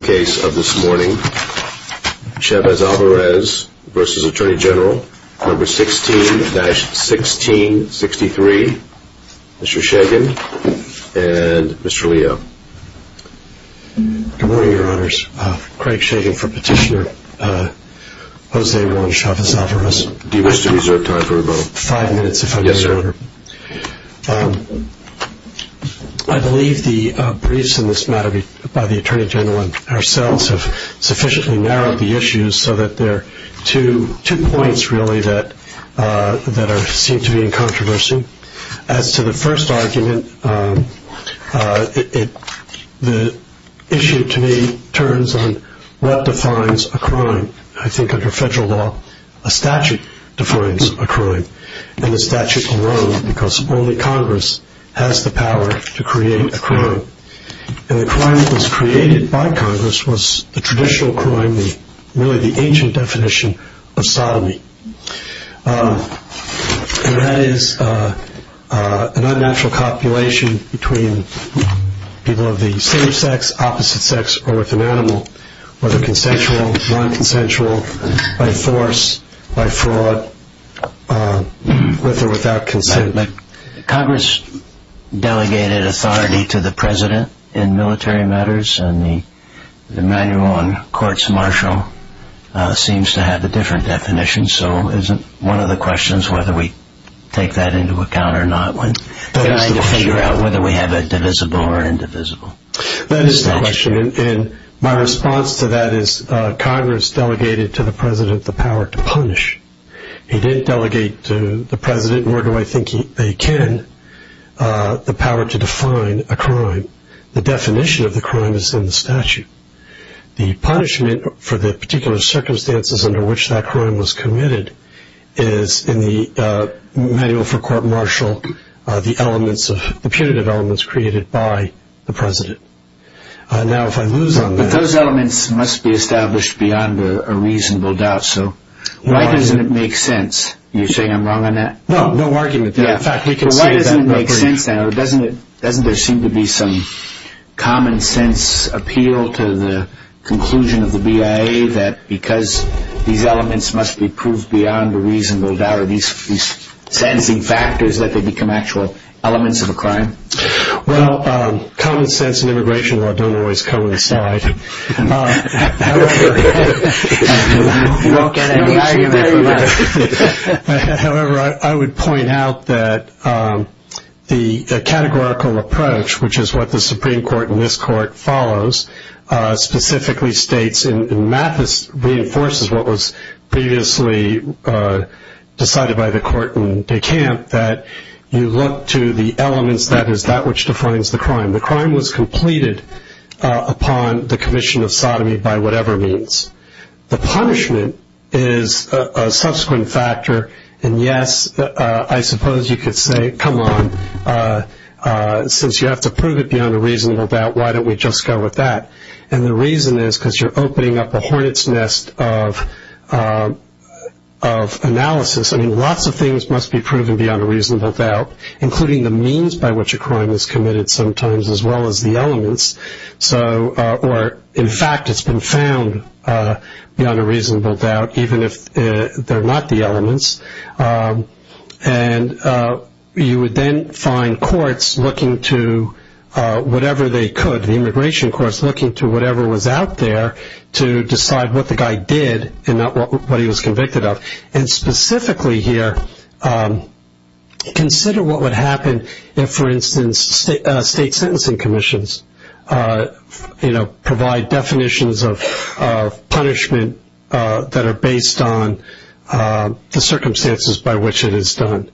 16-1663 Mr. Shagan and Mr. Leo. Good morning, your honors. Craig Shagan for Petitioner Jose Juan Chavez-Alvarez. Do you wish to reserve time for rebuttal? Five minutes, if I may, your honor. I believe the briefs in this matter by the Attorney General and ourselves have sufficiently narrowed the issues so that there are two points really that seem to be in controversy. As to the first argument, the issue to me turns on what defines a crime. I think under only Congress has the power to create a crime. And the crime that was created by Congress was the traditional crime, really the ancient definition of sodomy. And that is an unnatural copulation between people of the same sex, opposite sex, or with an animal, whether consensual, non-consensual, by force, by fraud, with or without consent. Congress delegated authority to the president in military matters and the manual on courts martial seems to have a different definition. So isn't one of the questions whether we take that into account or not when trying to figure out whether we have a divisible or indivisible statute? That is the question. And my response to that is Congress delegated to the president the power to punish. He didn't delegate to the president, nor do I think they can, the power to define a crime. The definition of the crime is in the statute. The punishment for the particular circumstances under which that crime was committed is in the manual for court martial, the punitive elements created by the president. Now if I lose on that... Those elements must be established beyond a reasonable doubt. So why doesn't it make sense? You're saying I'm wrong on that? No, no argument there. In fact, we can see that... Why doesn't it make sense then, or doesn't there seem to be some common sense appeal to the conclusion of the BIA that because these elements must be proved beyond a reasonable doubt, or these sensing factors that they become actual elements of a crime? Well, common sense and immigration law don't always coincide. You won't get any argument from us. However, I would point out that the categorical approach, which is what the Supreme Court and this court follows, specifically states, and Mathis reinforces what was previously decided by the court in De Camp, that you look to the elements that is that which defines the crime. The crime was completed upon the commission of sodomy by whatever means. The punishment is a subsequent factor, and yes, I suppose you could say, come on, since you have to prove it beyond a reasonable doubt, why don't we just go with that? And the reason is because you're opening up a hornet's nest of analysis. I mean, lots of things must be proven beyond a reasonable doubt, including the means by which a crime is committed sometimes, as well as the elements. Or, in fact, it's been found beyond a reasonable doubt, even if they're not the elements. And you would then find courts looking to whatever they could, the immigration courts looking to whatever was out there to decide what the guy did and not what he was convicted of. And specifically here, consider what would happen if, for instance, state sentencing commissions, you know, provide definitions of punishment that are based on the circumstances by which it is done.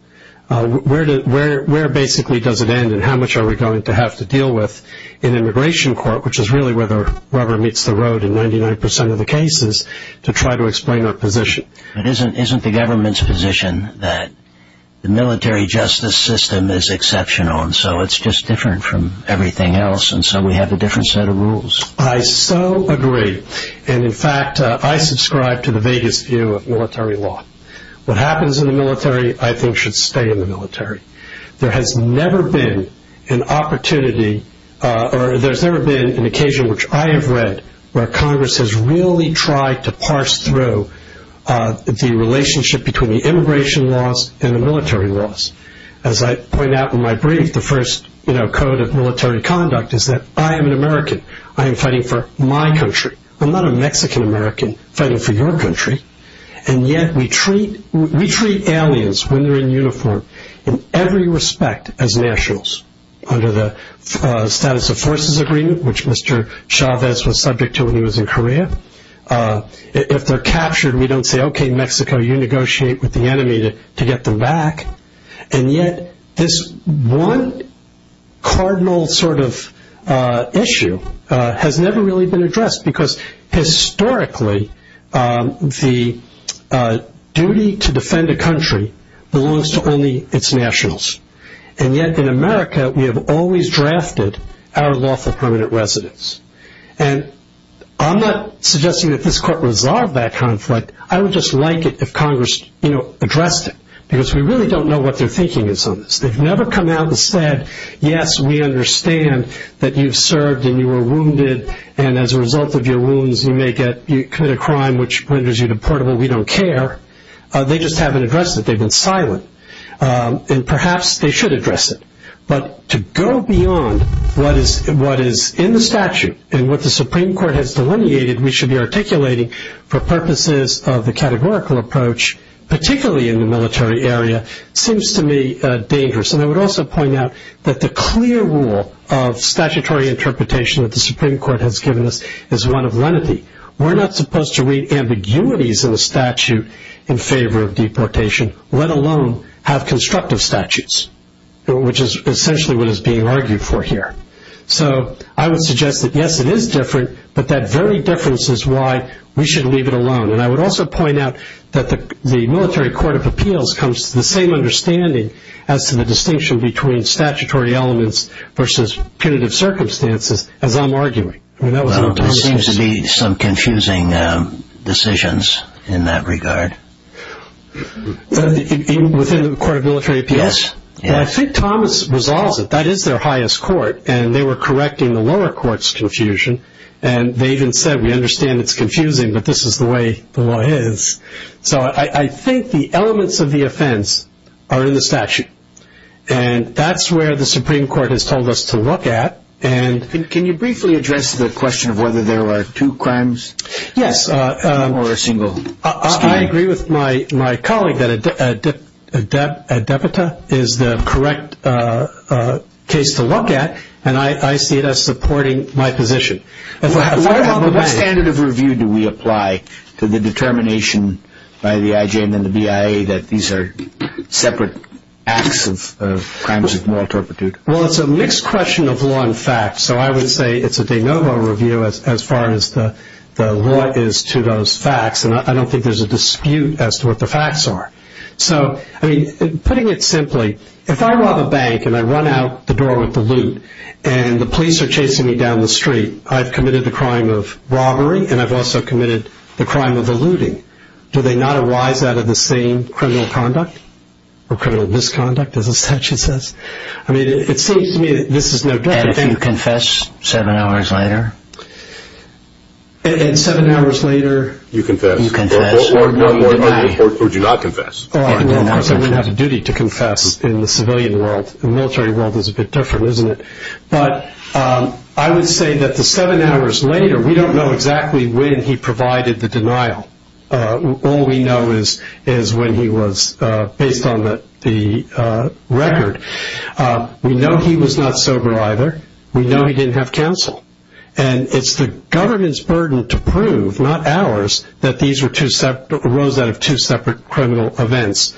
Where basically does it end, and how much are we going to have to deal with in immigration court, which is really where the rubber meets the road in 99% of the cases, to try to explain our position? But isn't the government's position that the military justice system is exceptional, and so it's just different from everything else, and so we have a different set of rules? I so agree. And, in fact, I subscribe to the vaguest view of military law. What happens in the military, I think, should stay in the military. There has never been an opportunity, or there's never been an occasion, which I have read, where Congress has really tried to parse through the relationship between the immigration laws and the military laws. As I point out in my brief, the first code of military conduct is that I am an American. I am fighting for my country. I'm not a Mexican-American fighting for your country. And yet we treat aliens, when they're in uniform, in every respect as nationals, under the Status of Forces Agreement, which Mr. Chavez was subject to when he was in Korea. If they're captured, we don't say, okay, Mexico, you negotiate with the enemy to get them back. And yet this one cardinal sort of issue has never really been addressed, because historically the duty to defend a country belongs to only its nationals. And yet, in America, we have always drafted our lawful permanent residence. And I'm not suggesting that this Court resolve that conflict. I would just like it if Congress addressed it, because we really don't know what their thinking is on this. They've never come out and said, yes, we understand that you've served and you were wounded, and as a result of your wounds you may commit a crime which renders you deportable. We don't care. They just haven't addressed it. They've been silent. And perhaps they should address it. But to go beyond what is in the statute and what the Supreme Court has delineated we should be articulating for purposes of the categorical approach, particularly in the military area, seems to me dangerous. And I would also point out that the clear rule of statutory interpretation that the Supreme Court has given us is one of lenity. We're not supposed to read ambiguities in the statute in favor of deportation, let alone have constructive statutes, which is essentially what is being argued for here. So I would suggest that, yes, it is different, but that very difference is why we should leave it alone. And I would also point out that the Military Court of Appeals comes to the same understanding as to the distinction between statutory elements versus punitive circumstances as I'm arguing. Well, there seems to be some confusing decisions in that regard. Within the Court of Military Appeals? Yes. I think Thomas resolves it. That is their highest court, and they were correcting the lower court's confusion, and they even said we understand it's confusing, but this is the way the law is. So I think the elements of the offense are in the statute, and that's where the Supreme Court has told us to look at. Can you briefly address the question of whether there are two crimes? Yes. Or a single. A debita is the correct case to look at, and I see it as supporting my position. What standard of review do we apply to the determination by the IJ and then the BIA that these are separate acts of crimes of moral turpitude? Well, it's a mixed question of law and fact. So I would say it's a de novo review as far as the law is to those facts, and I don't think there's a dispute as to what the facts are. So, I mean, putting it simply, if I rob a bank and I run out the door with the loot and the police are chasing me down the street, I've committed the crime of robbery and I've also committed the crime of the looting. Do they not arise out of the same criminal conduct or criminal misconduct, as the statute says? I mean, it seems to me that this is no different. And if you confess seven hours later? And seven hours later? You confess. You confess. Or do you not confess? We have a duty to confess in the civilian world. The military world is a bit different, isn't it? But I would say that the seven hours later, we don't know exactly when he provided the denial. All we know is when he was based on the record. We know he was not sober either. We know he didn't have counsel. And it's the government's burden to prove, not ours, that these arose out of two separate criminal events.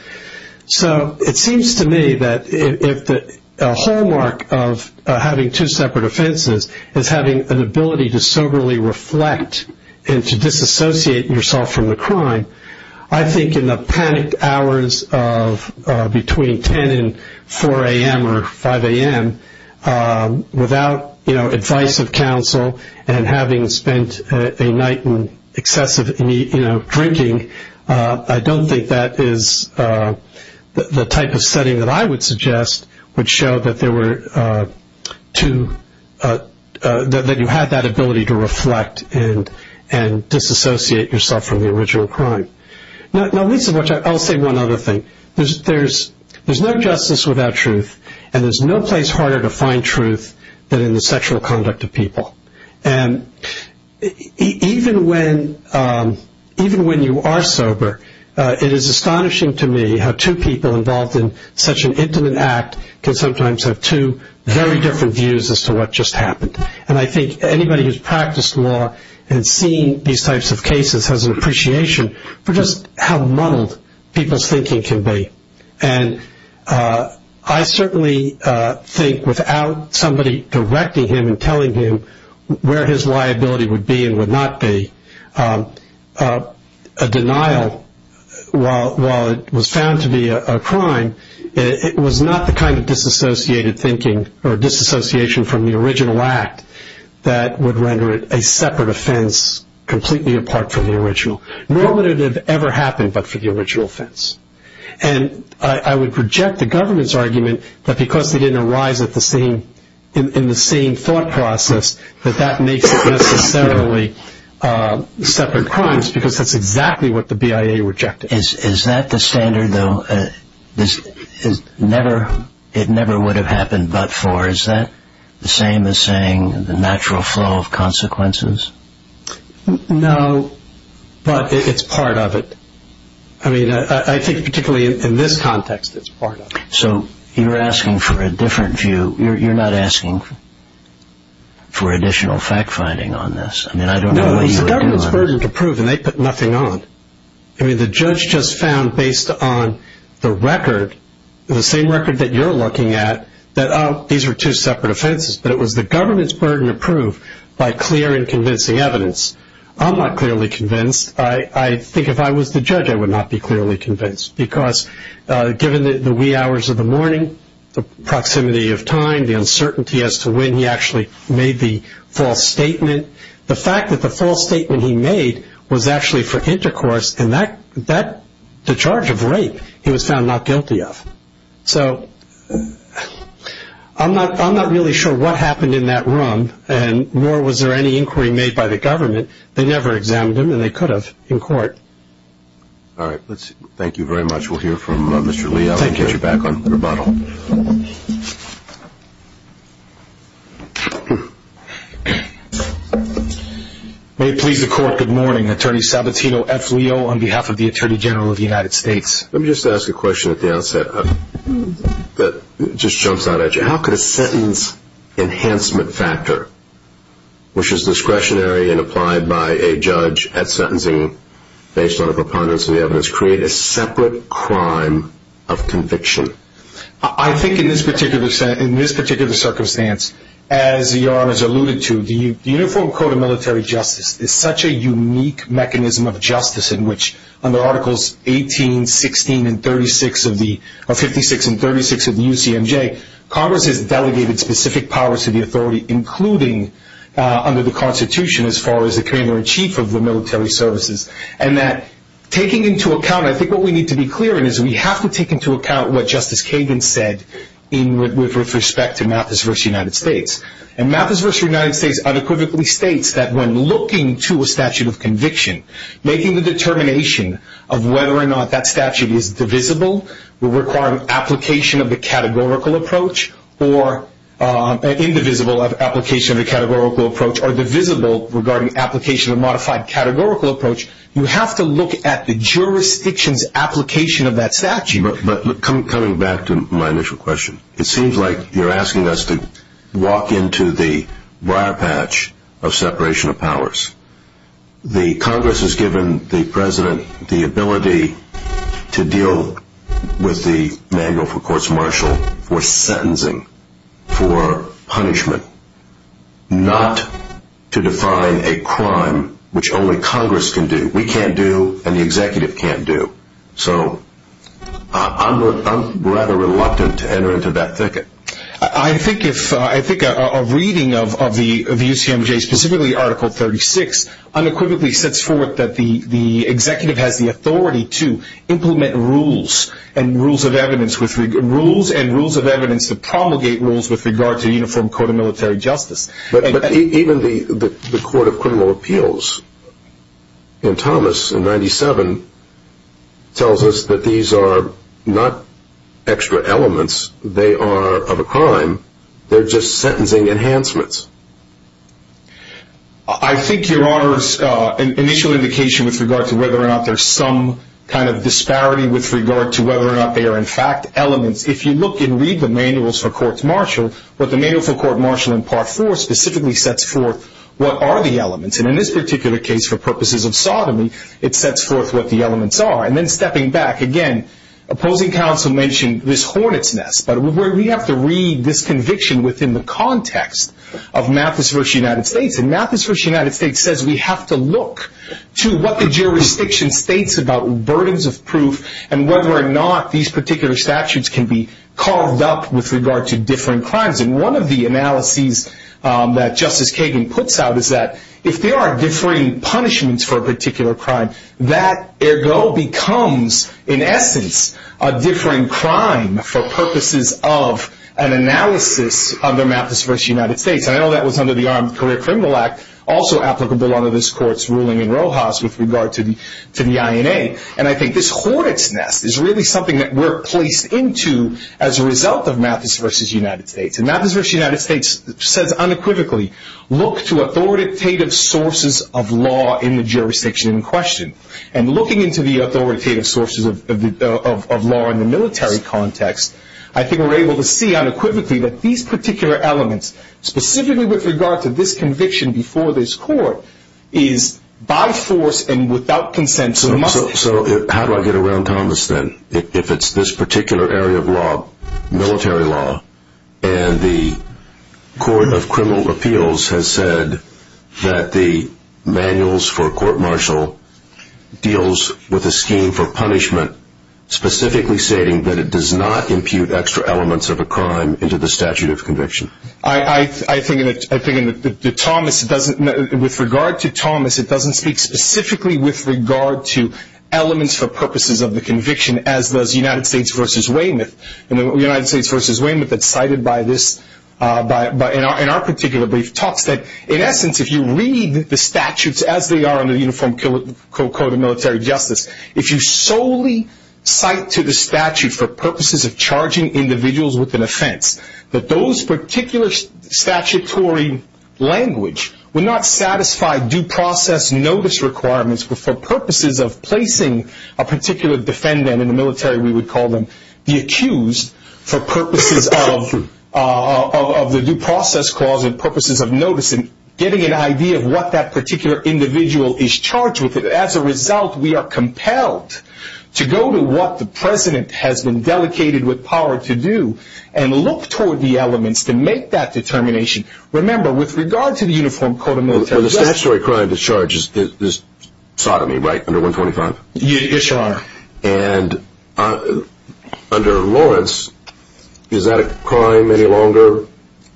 So it seems to me that a hallmark of having two separate offenses is having an ability to soberly reflect and to disassociate yourself from the crime. I think in the panicked hours of between 10 and 4 a.m. or 5 a.m., without advice of counsel and having spent a night in excessive drinking, I don't think that is the type of setting that I would suggest would show that there were two – Now, Lisa, I'll say one other thing. There's no justice without truth, and there's no place harder to find truth than in the sexual conduct of people. And even when you are sober, it is astonishing to me how two people involved in such an intimate act can sometimes have two very different views as to what just happened. And I think anybody who's practiced law and seen these types of cases has an appreciation for just how muddled people's thinking can be. And I certainly think without somebody directing him and telling him where his liability would be and would not be, a denial, while it was found to be a crime, it was not the kind of disassociated thinking or disassociation from the original act that would render it a separate offense completely apart from the original. Nor would it have ever happened but for the original offense. And I would reject the government's argument that because they didn't arise in the same thought process, that that makes it necessarily separate crimes, because that's exactly what the BIA rejected. Is that the standard, though, it never would have happened but for? Is that the same as saying the natural flow of consequences? No, but it's part of it. I mean, I think particularly in this context, it's part of it. So you're asking for a different view. You're not asking for additional fact-finding on this. I mean, I don't know what you're doing. No, it's the government's burden to prove, and they put nothing on. I mean, the judge just found based on the record, the same record that you're looking at, that, oh, these are two separate offenses. But it was the government's burden to prove by clear and convincing evidence. I'm not clearly convinced. I think if I was the judge, I would not be clearly convinced, because given the wee hours of the morning, the proximity of time, the uncertainty as to when he actually made the false statement, the fact that the false statement he made was actually for intercourse, and the charge of rape he was found not guilty of. So I'm not really sure what happened in that room, nor was there any inquiry made by the government. They never examined him, and they could have in court. All right. Thank you very much. We'll hear from Mr. Lee. I'll get you back on the rebuttal. May it please the Court, good morning. Attorney Sabatino, FLEO, on behalf of the Attorney General of the United States. Let me just ask a question at the outset that just jumps out at you. How could a sentence enhancement factor, which is discretionary and applied by a judge at sentencing based on a preponderance of the evidence, create a separate crime of conviction? I think in this particular circumstance, as Your Honors alluded to, the Uniform Code of Military Justice is such a unique mechanism of justice in which, under Articles 56 and 36 of the UCMJ, Congress has delegated specific powers to the authority, including under the Constitution as far as the commander-in-chief of the military services, and that taking into account, I think what we need to be clear in is we have to take into account what Justice Kagan said with respect to Mathis v. United States. And Mathis v. United States unequivocally states that when looking to a statute of conviction, making the determination of whether or not that statute is divisible, requiring application of the categorical approach, or indivisible application of the categorical approach, or divisible regarding application of a modified categorical approach, you have to look at the jurisdiction's application of that statute. But coming back to my initial question, it seems like you're asking us to walk into the wire patch of separation of powers. The Congress has given the President the ability to deal with the manual for courts martial for sentencing, for punishment, not to define a crime which only Congress can do. We can't do, and the executive can't do. So I'm rather reluctant to enter into that thicket. I think a reading of the UCMJ, specifically Article 36, unequivocally sets forth that the executive has the authority to implement rules and rules of evidence to promulgate rules with regard to the Uniform Code of Military Justice. But even the Court of Criminal Appeals in Thomas in 97 tells us that these are not extra elements. They are of a crime. They're just sentencing enhancements. I think your Honor's initial indication with regard to whether or not there's some kind of disparity with regard to whether or not they are in fact elements, if you look and read the manuals for courts martial, what the manual for courts martial in Part 4 specifically sets forth what are the elements. And in this particular case, for purposes of sodomy, it sets forth what the elements are. And then stepping back again, opposing counsel mentioned this hornet's nest. But we have to read this conviction within the context of Mathis v. United States. And Mathis v. United States says we have to look to what the jurisdiction states about burdens of proof and whether or not these particular statutes can be carved up with regard to differing crimes. And one of the analyses that Justice Kagan puts out is that if there are differing punishments for a particular crime, that ergo becomes, in essence, a differing crime for purposes of an analysis under Mathis v. United States. And I know that was under the Armed Career Criminal Act, also applicable under this court's ruling in Rojas with regard to the INA. And I think this hornet's nest is really something that we're placed into as a result of Mathis v. United States. And Mathis v. United States says unequivocally, look to authoritative sources of law in the jurisdiction in question. And looking into the authoritative sources of law in the military context, I think we're able to see unequivocally that these particular elements, specifically with regard to this conviction before this court, is by force and without consent. So how do I get around Thomas then? If it's this particular area of law, military law, and the Court of Criminal Appeals has said that the manuals for court-martial deals with a scheme for punishment, specifically stating that it does not impute extra elements of a crime into the statute of conviction. I think with regard to Thomas, it doesn't speak specifically with regard to elements for purposes of the conviction, as does United States v. Weymouth. United States v. Weymouth had cited in our particular brief talks that, in essence, if you read the statutes as they are under the Uniform Code of Military Justice, if you solely cite to the statute for purposes of charging individuals with an offense, that those particular statutory language would not satisfy due process notice requirements, but for purposes of placing a particular defendant in the military, we would call them the accused, for purposes of the due process clause and purposes of noticing, getting an idea of what that particular individual is charged with. As a result, we are compelled to go to what the President has been delegated with power to do and look toward the elements to make that determination. Remember, with regard to the Uniform Code of Military Justice... Well, the statutory crime to charge is sodomy, right, under 125? Yes, Your Honor. And under Lawrence, is that a crime any longer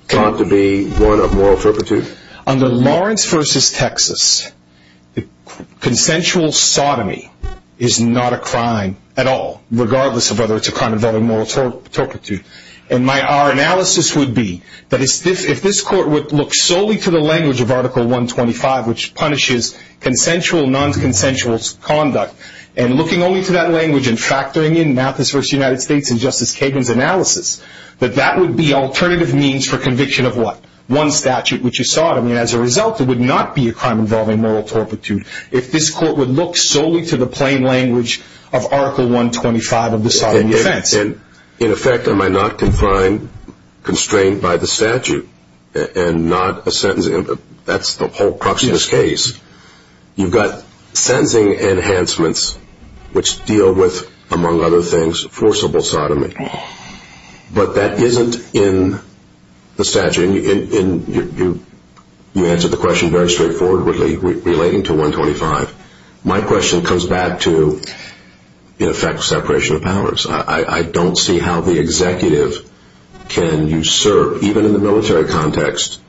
thought to be one of moral turpitude? Under Lawrence v. Texas, consensual sodomy is not a crime at all, regardless of whether it's a crime involving moral turpitude. And our analysis would be that if this Court would look solely to the language of Article 125, which punishes consensual, non-consensual conduct, and looking only to that language and factoring in Mathis v. United States and Justice Kagan's analysis, that that would be alternative means for conviction of what? One statute, which is sodomy. As a result, it would not be a crime involving moral turpitude if this Court would look solely to the plain language of Article 125 of the Sodomy Defense. In effect, am I not constrained by the statute and not a sentencing? That's the whole crux of this case. You've got sentencing enhancements, which deal with, among other things, forcible sodomy. But that isn't in the statute. You answered the question very straightforwardly, relating to 125. My question comes back to, in effect, separation of powers. I don't see how the executive can usurp, even in the military context,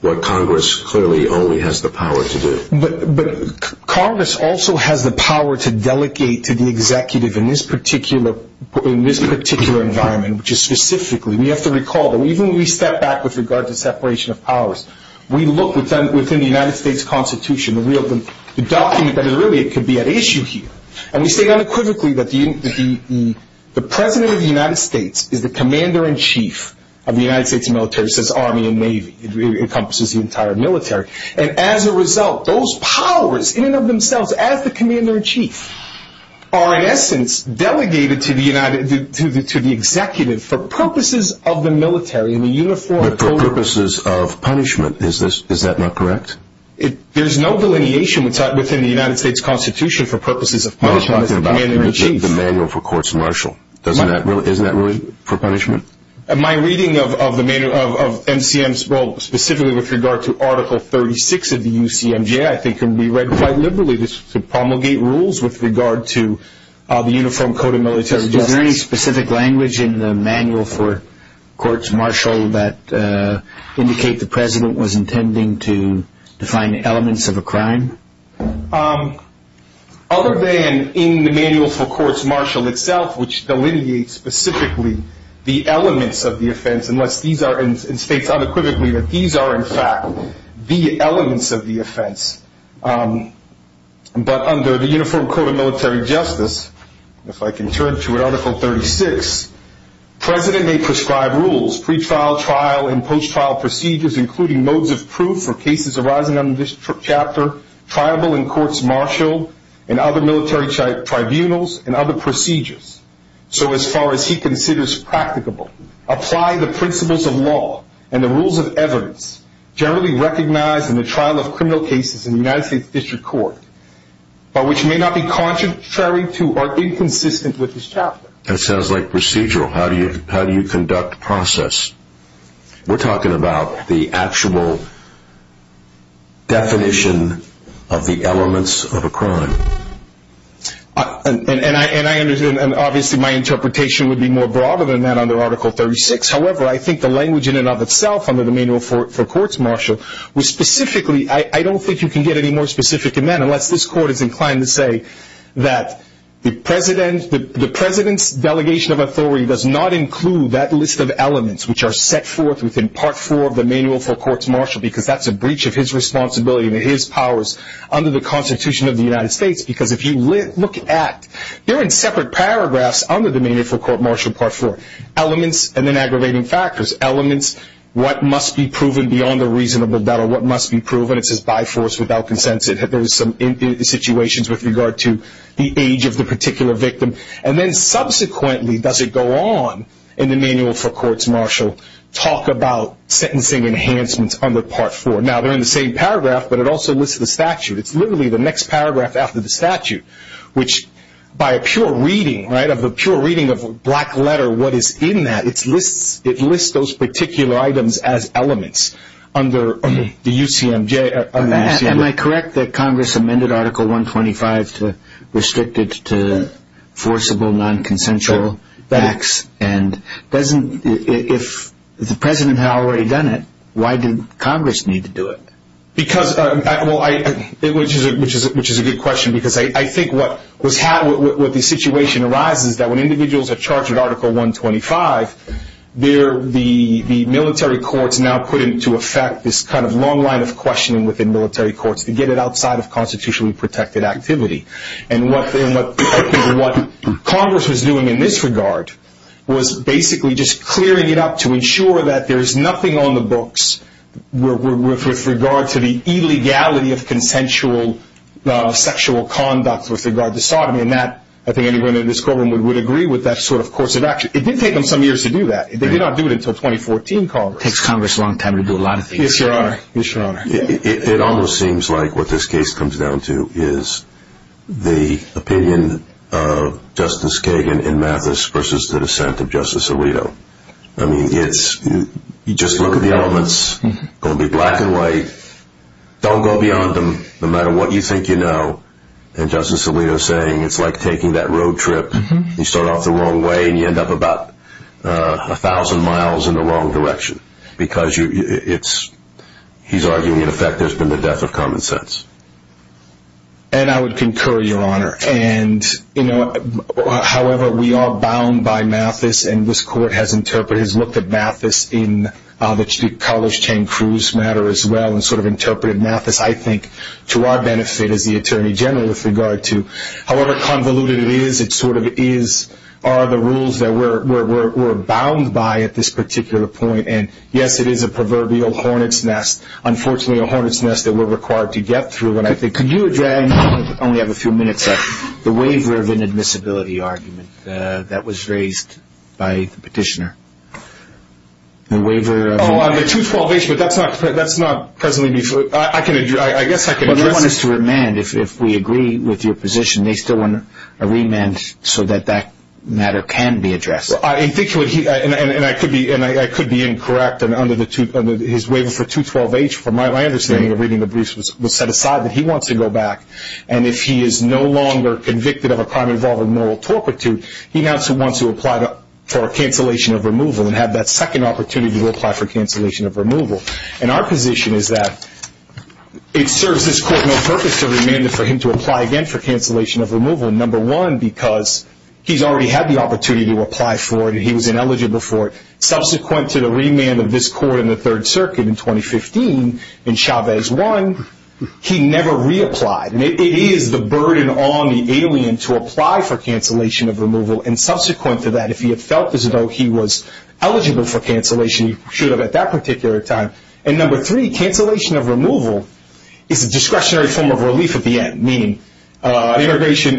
what Congress clearly only has the power to do. But Congress also has the power to delegate to the executive in this particular environment, which is specifically, we have to recall that even when we step back with regard to separation of powers, we look within the United States Constitution, the document that really could be at issue here. And we state unequivocally that the President of the United States is the Commander-in-Chief of the United States military. It says Army and Navy. It encompasses the entire military. And as a result, those powers, in and of themselves, as the Commander-in-Chief, are, in essence, delegated to the executive for purposes of the military. But for purposes of punishment, is that not correct? There's no delineation within the United States Constitution for purposes of punishment as the Commander-in-Chief. The Manual for Courts Martial, isn't that really for punishment? My reading of MCM, specifically with regard to Article 36 of the UCMJ, I think can be read quite liberally to promulgate rules with regard to the Uniform Code of Military Justice. Is there any specific language in the Manual for Courts Martial that indicate the President was intending to define elements of a crime? Other than in the Manual for Courts Martial itself, which delineates specifically the elements of the offense, it states unequivocally that these are, in fact, the elements of the offense. But under the Uniform Code of Military Justice, if I can turn to Article 36, President may prescribe rules, pre-trial, trial, and post-trial procedures, including modes of proof for cases arising under this chapter, tribal and courts martial, and other military tribunals, and other procedures. So as far as he considers practicable, apply the principles of law and the rules of evidence generally recognized in the trial of criminal cases in the United States District Court, but which may not be contrary to or inconsistent with this chapter. That sounds like procedural. How do you conduct process? We're talking about the actual definition of the elements of a crime. Obviously, my interpretation would be more broader than that under Article 36. However, I think the language in and of itself under the Manual for Courts Martial, I don't think you can get any more specific than that, unless this Court is inclined to say that the President's delegation of authority does not include that list of elements, which are set forth within Part 4 of the Manual for Courts Martial, because that's a breach of his responsibility and his powers under the Constitution of the United States. Because if you look at, they're in separate paragraphs under the Manual for Courts Martial, Part 4. Elements, and then aggravating factors. Elements, what must be proven beyond a reasonable doubt, or what must be proven. It says by force, without consensus. There's some situations with regard to the age of the particular victim. And then subsequently, does it go on in the Manual for Courts Martial, talk about sentencing enhancements under Part 4. Now, they're in the same paragraph, but it also lists the statute. It's literally the next paragraph after the statute, which by a pure reading, right, of a pure reading of a black letter, what is in that, it lists those particular items as elements under the UCMJ. Am I correct that Congress amended Article 125 to restrict it to forcible, non-consensual acts? And doesn't, if the President had already done it, why did Congress need to do it? Because, well, which is a good question, because I think what the situation arises, that when individuals are charged with Article 125, the military courts now put into effect this kind of long line of questioning within military courts to get it outside of constitutionally protected activity. And what Congress was doing in this regard was basically just clearing it up to ensure that there's nothing on the books with regard to the illegality of consensual sexual conduct with regard to sodomy. And that, I think anyone in this courtroom would agree with that sort of course of action. It did take them some years to do that. They did not do it until 2014, Congress. It takes Congress a long time to do a lot of things. Yes, Your Honor. It almost seems like what this case comes down to is the opinion of Justice Kagan and Mathis versus the dissent of Justice Alito. I mean, it's, you just look at the elements, going to be black and white. Don't go beyond them, no matter what you think you know. And Justice Alito is saying it's like taking that road trip. You start off the wrong way and you end up about a thousand miles in the wrong direction because he's arguing, in effect, there's been the death of common sense. And I would concur, Your Honor. And, you know, however, we are bound by Mathis, and this Court has interpreted, has looked at Mathis in the College Chain Cruise matter as well and sort of interpreted Mathis, I think, to our benefit as the Attorney General with regard to however convoluted it is, are the rules that we're bound by at this particular point. And, yes, it is a proverbial hornet's nest. Unfortunately, a hornet's nest that we're required to get through. Could you address, I only have a few minutes left, the waiver of inadmissibility argument that was raised by the petitioner? Oh, I'm at 212H, but that's not presently before. I guess I can address this. Well, they want us to remand. If we agree with your position, they still want a remand so that that matter can be addressed. Well, I think what he, and I could be incorrect under his waiver for 212H. From my understanding of reading the briefs, it was set aside that he wants to go back, and if he is no longer convicted of a crime involving moral torpitude, he now wants to apply for a cancellation of removal and have that second opportunity to apply for cancellation of removal. And our position is that it serves this court no purpose to remand him for him to apply again for cancellation of removal. Number one, because he's already had the opportunity to apply for it, and he was ineligible for it. Subsequent to the remand of this court in the Third Circuit in 2015 in Chavez 1, he never reapplied. And it is the burden on the alien to apply for cancellation of removal. And subsequent to that, if he had felt as though he was eligible for cancellation, he should have at that particular time. And number three, cancellation of removal is a discretionary form of relief at the end, meaning immigration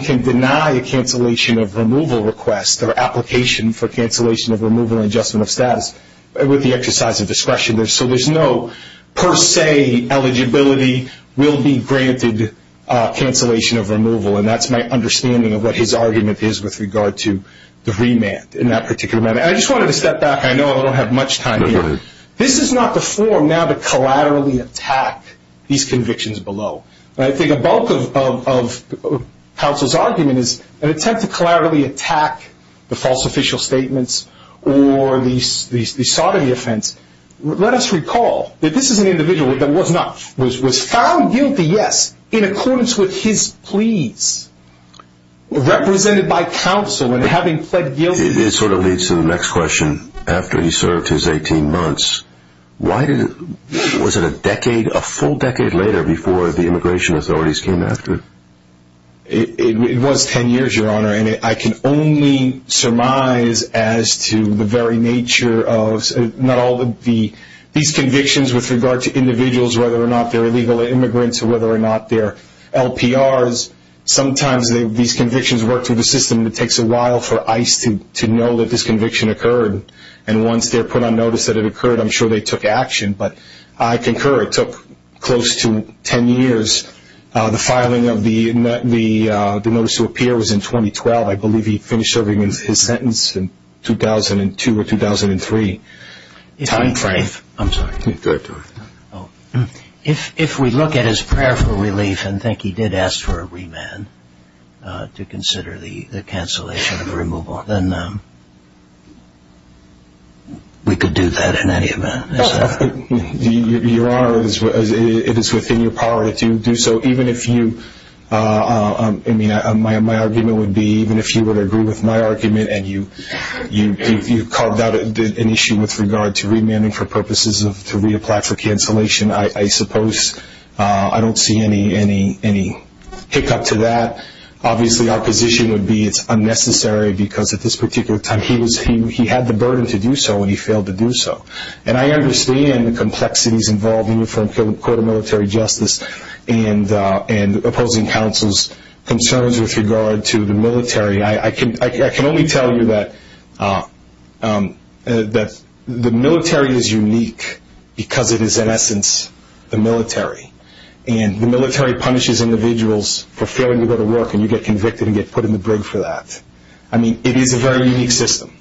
can deny a cancellation of removal request or application for cancellation of removal and adjustment of status with the exercise of discretion. So there's no per se eligibility will be granted cancellation of removal, and that's my understanding of what his argument is with regard to the remand in that particular matter. I just wanted to step back. I know I don't have much time here. This is not the form now to collaterally attack these convictions below. I think a bulk of counsel's argument is an attempt to collaterally attack the false official statements or the sodomy offense. Let us recall that this is an individual that was found guilty, yes, in accordance with his pleas, represented by counsel and having pled guilty. It sort of leads to the next question. After he served his 18 months, was it a decade, a full decade later before the immigration authorities came after? It was 10 years, Your Honor, and I can only surmise as to the very nature of not all these convictions with regard to individuals, whether or not they're illegal immigrants or whether or not they're LPRs. Sometimes these convictions work through the system, and it takes a while for ICE to know that this conviction occurred. And once they're put on notice that it occurred, I'm sure they took action. But I concur it took close to 10 years. The filing of the notice to appear was in 2012. I believe he finished serving his sentence in 2002 or 2003. If we look at his prayer for relief and think he did ask for a remand to consider the cancellation of the removal, then we could do that in any event, is that right? Your Honor, it is within your power to do so. My argument would be even if you would agree with my argument and you carved out an issue with regard to remanding for purposes of reapplying for cancellation, I suppose I don't see any hiccup to that. Obviously our position would be it's unnecessary because at this particular time he had the burden to do so and he failed to do so. And I understand the complexities involving the Court of Military Justice and opposing counsel's concerns with regard to the military. I can only tell you that the military is unique because it is, in essence, the military. And the military punishes individuals for failing to go to work, and you get convicted and get put in the brig for that. I mean, it is a very unique system.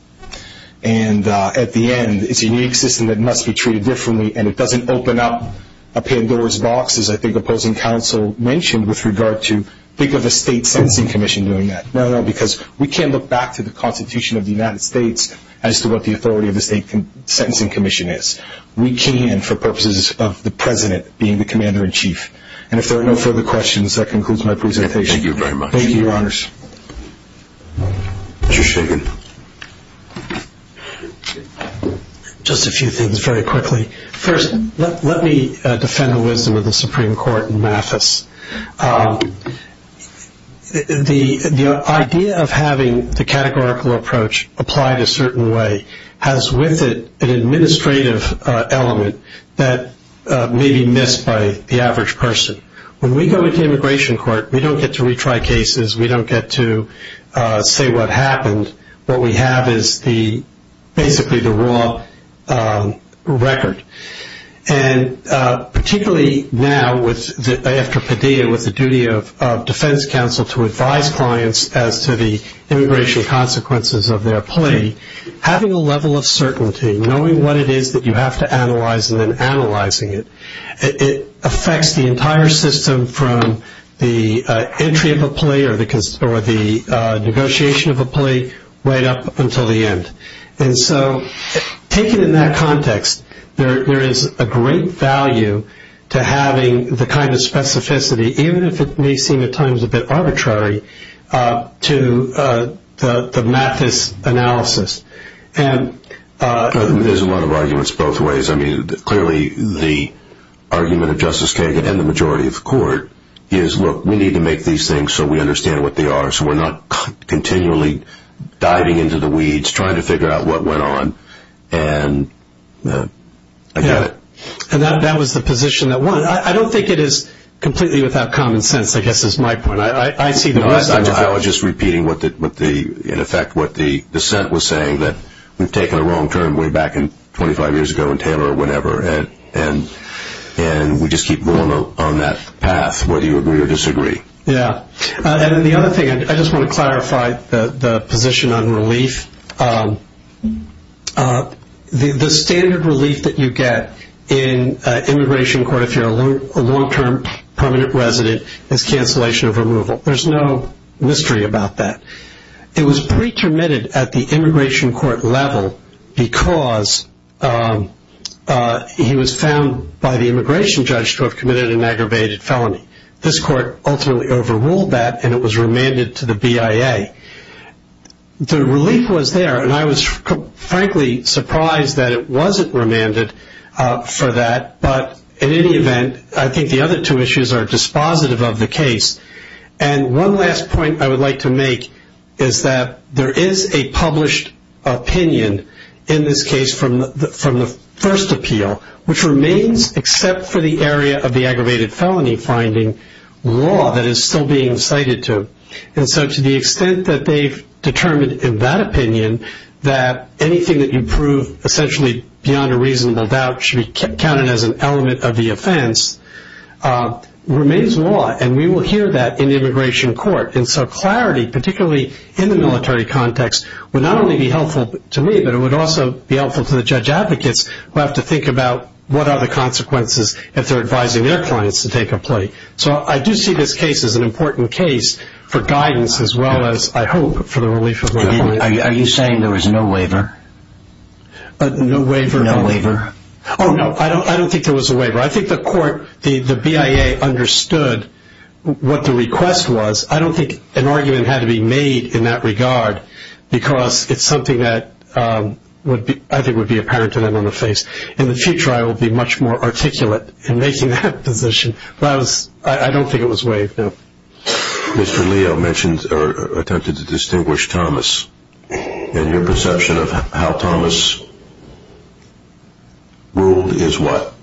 And at the end, it's a unique system that must be treated differently, and it doesn't open up a Pandora's box, as I think opposing counsel mentioned, with regard to think of a state sentencing commission doing that. No, no, because we can't look back to the Constitution of the United States as to what the authority of the state sentencing commission is. We can, for purposes of the President being the Commander-in-Chief. And if there are no further questions, that concludes my presentation. Thank you very much. Thank you, Your Honors. Mr. Shagan. Just a few things very quickly. First, let me defend the wisdom of the Supreme Court in Mathis. The idea of having the categorical approach applied a certain way has with it an administrative element that may be missed by the average person. When we go into immigration court, we don't get to retry cases. We don't get to say what happened. What we have is basically the raw record. And particularly now, after Padilla, with the duty of defense counsel to advise clients as to the immigration consequences of their plea, having a level of certainty, knowing what it is that you have to analyze and then analyzing it, it affects the entire system from the entry of a plea or the negotiation of a plea right up until the end. And so taken in that context, there is a great value to having the kind of specificity, even if it may seem at times a bit arbitrary, to the Mathis analysis. There's a lot of arguments both ways. I mean, clearly the argument of Justice Kagan and the majority of the court is, look, we need to make these things so we understand what they are so we're not continually diving into the weeds trying to figure out what went on. And I get it. And that was the position that won. I don't think it is completely without common sense, I guess is my point. I see the rest of it. I was just repeating in effect what the dissent was saying, that we've taken a wrong turn way back 25 years ago in Taylor or whenever, and we just keep going on that path whether you agree or disagree. Yeah. And the other thing, I just want to clarify the position on relief. The standard relief that you get in an immigration court if you're a long-term permanent resident is cancellation of removal. There's no mystery about that. It was pretermitted at the immigration court level because he was found by the immigration judge to have committed an aggravated felony. This court ultimately overruled that, and it was remanded to the BIA. The relief was there, and I was frankly surprised that it wasn't remanded for that. But in any event, I think the other two issues are dispositive of the case. And one last point I would like to make is that there is a published opinion in this case from the first appeal, which remains except for the area of the aggravated felony finding, law that is still being cited to. And so to the extent that they've determined in that opinion that anything that you prove essentially beyond a reasonable doubt should be counted as an element of the offense remains law. And we will hear that in the immigration court. And so clarity, particularly in the military context, would not only be helpful to me, but it would also be helpful to the judge advocates who have to think about what are the consequences if they're advising their clients to take a plea. So I do see this case as an important case for guidance as well as, I hope, for the relief of the client. Are you saying there was no waiver? No waiver? Oh, no, I don't think there was a waiver. I think the court, the BIA, understood what the request was. I don't think an argument had to be made in that regard because it's something that I think would be apparent to them on the face. In the future, I will be much more articulate in making that position. Mr. Leo mentioned or attempted to distinguish Thomas and your perception of how Thomas ruled is what?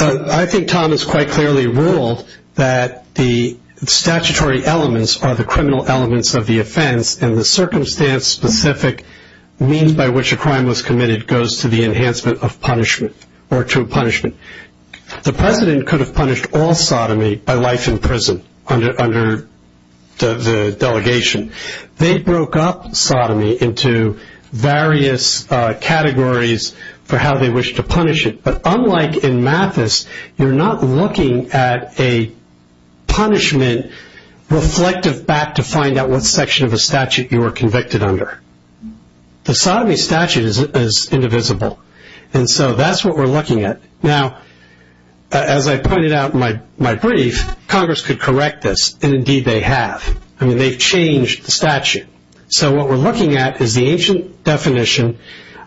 I think Thomas quite clearly ruled that the statutory elements are the criminal elements of the offense and the circumstance-specific means by which a crime was committed goes to the enhancement of punishment or to punishment. The president could have punished all sodomy by life in prison under the delegation. They broke up sodomy into various categories for how they wished to punish it, but unlike in Mathis, you're not looking at a punishment reflective back to find out what section of a statute you were convicted under. The sodomy statute is indivisible, and so that's what we're looking at. Now, as I pointed out in my brief, Congress could correct this, and indeed they have. I mean, they've changed the statute. So what we're looking at is the ancient definition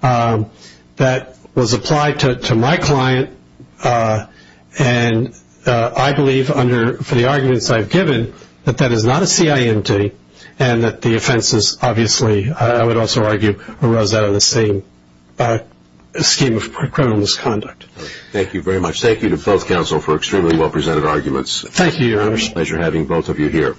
that was applied to my client, and I believe for the arguments I've given that that is not a CIMD and that the offenses obviously, I would also argue, arose out of the same scheme of criminal misconduct. Thank you very much. Thank you to both counsel for extremely well-presented arguments. Thank you, Your Honor. It's a pleasure having both of you here.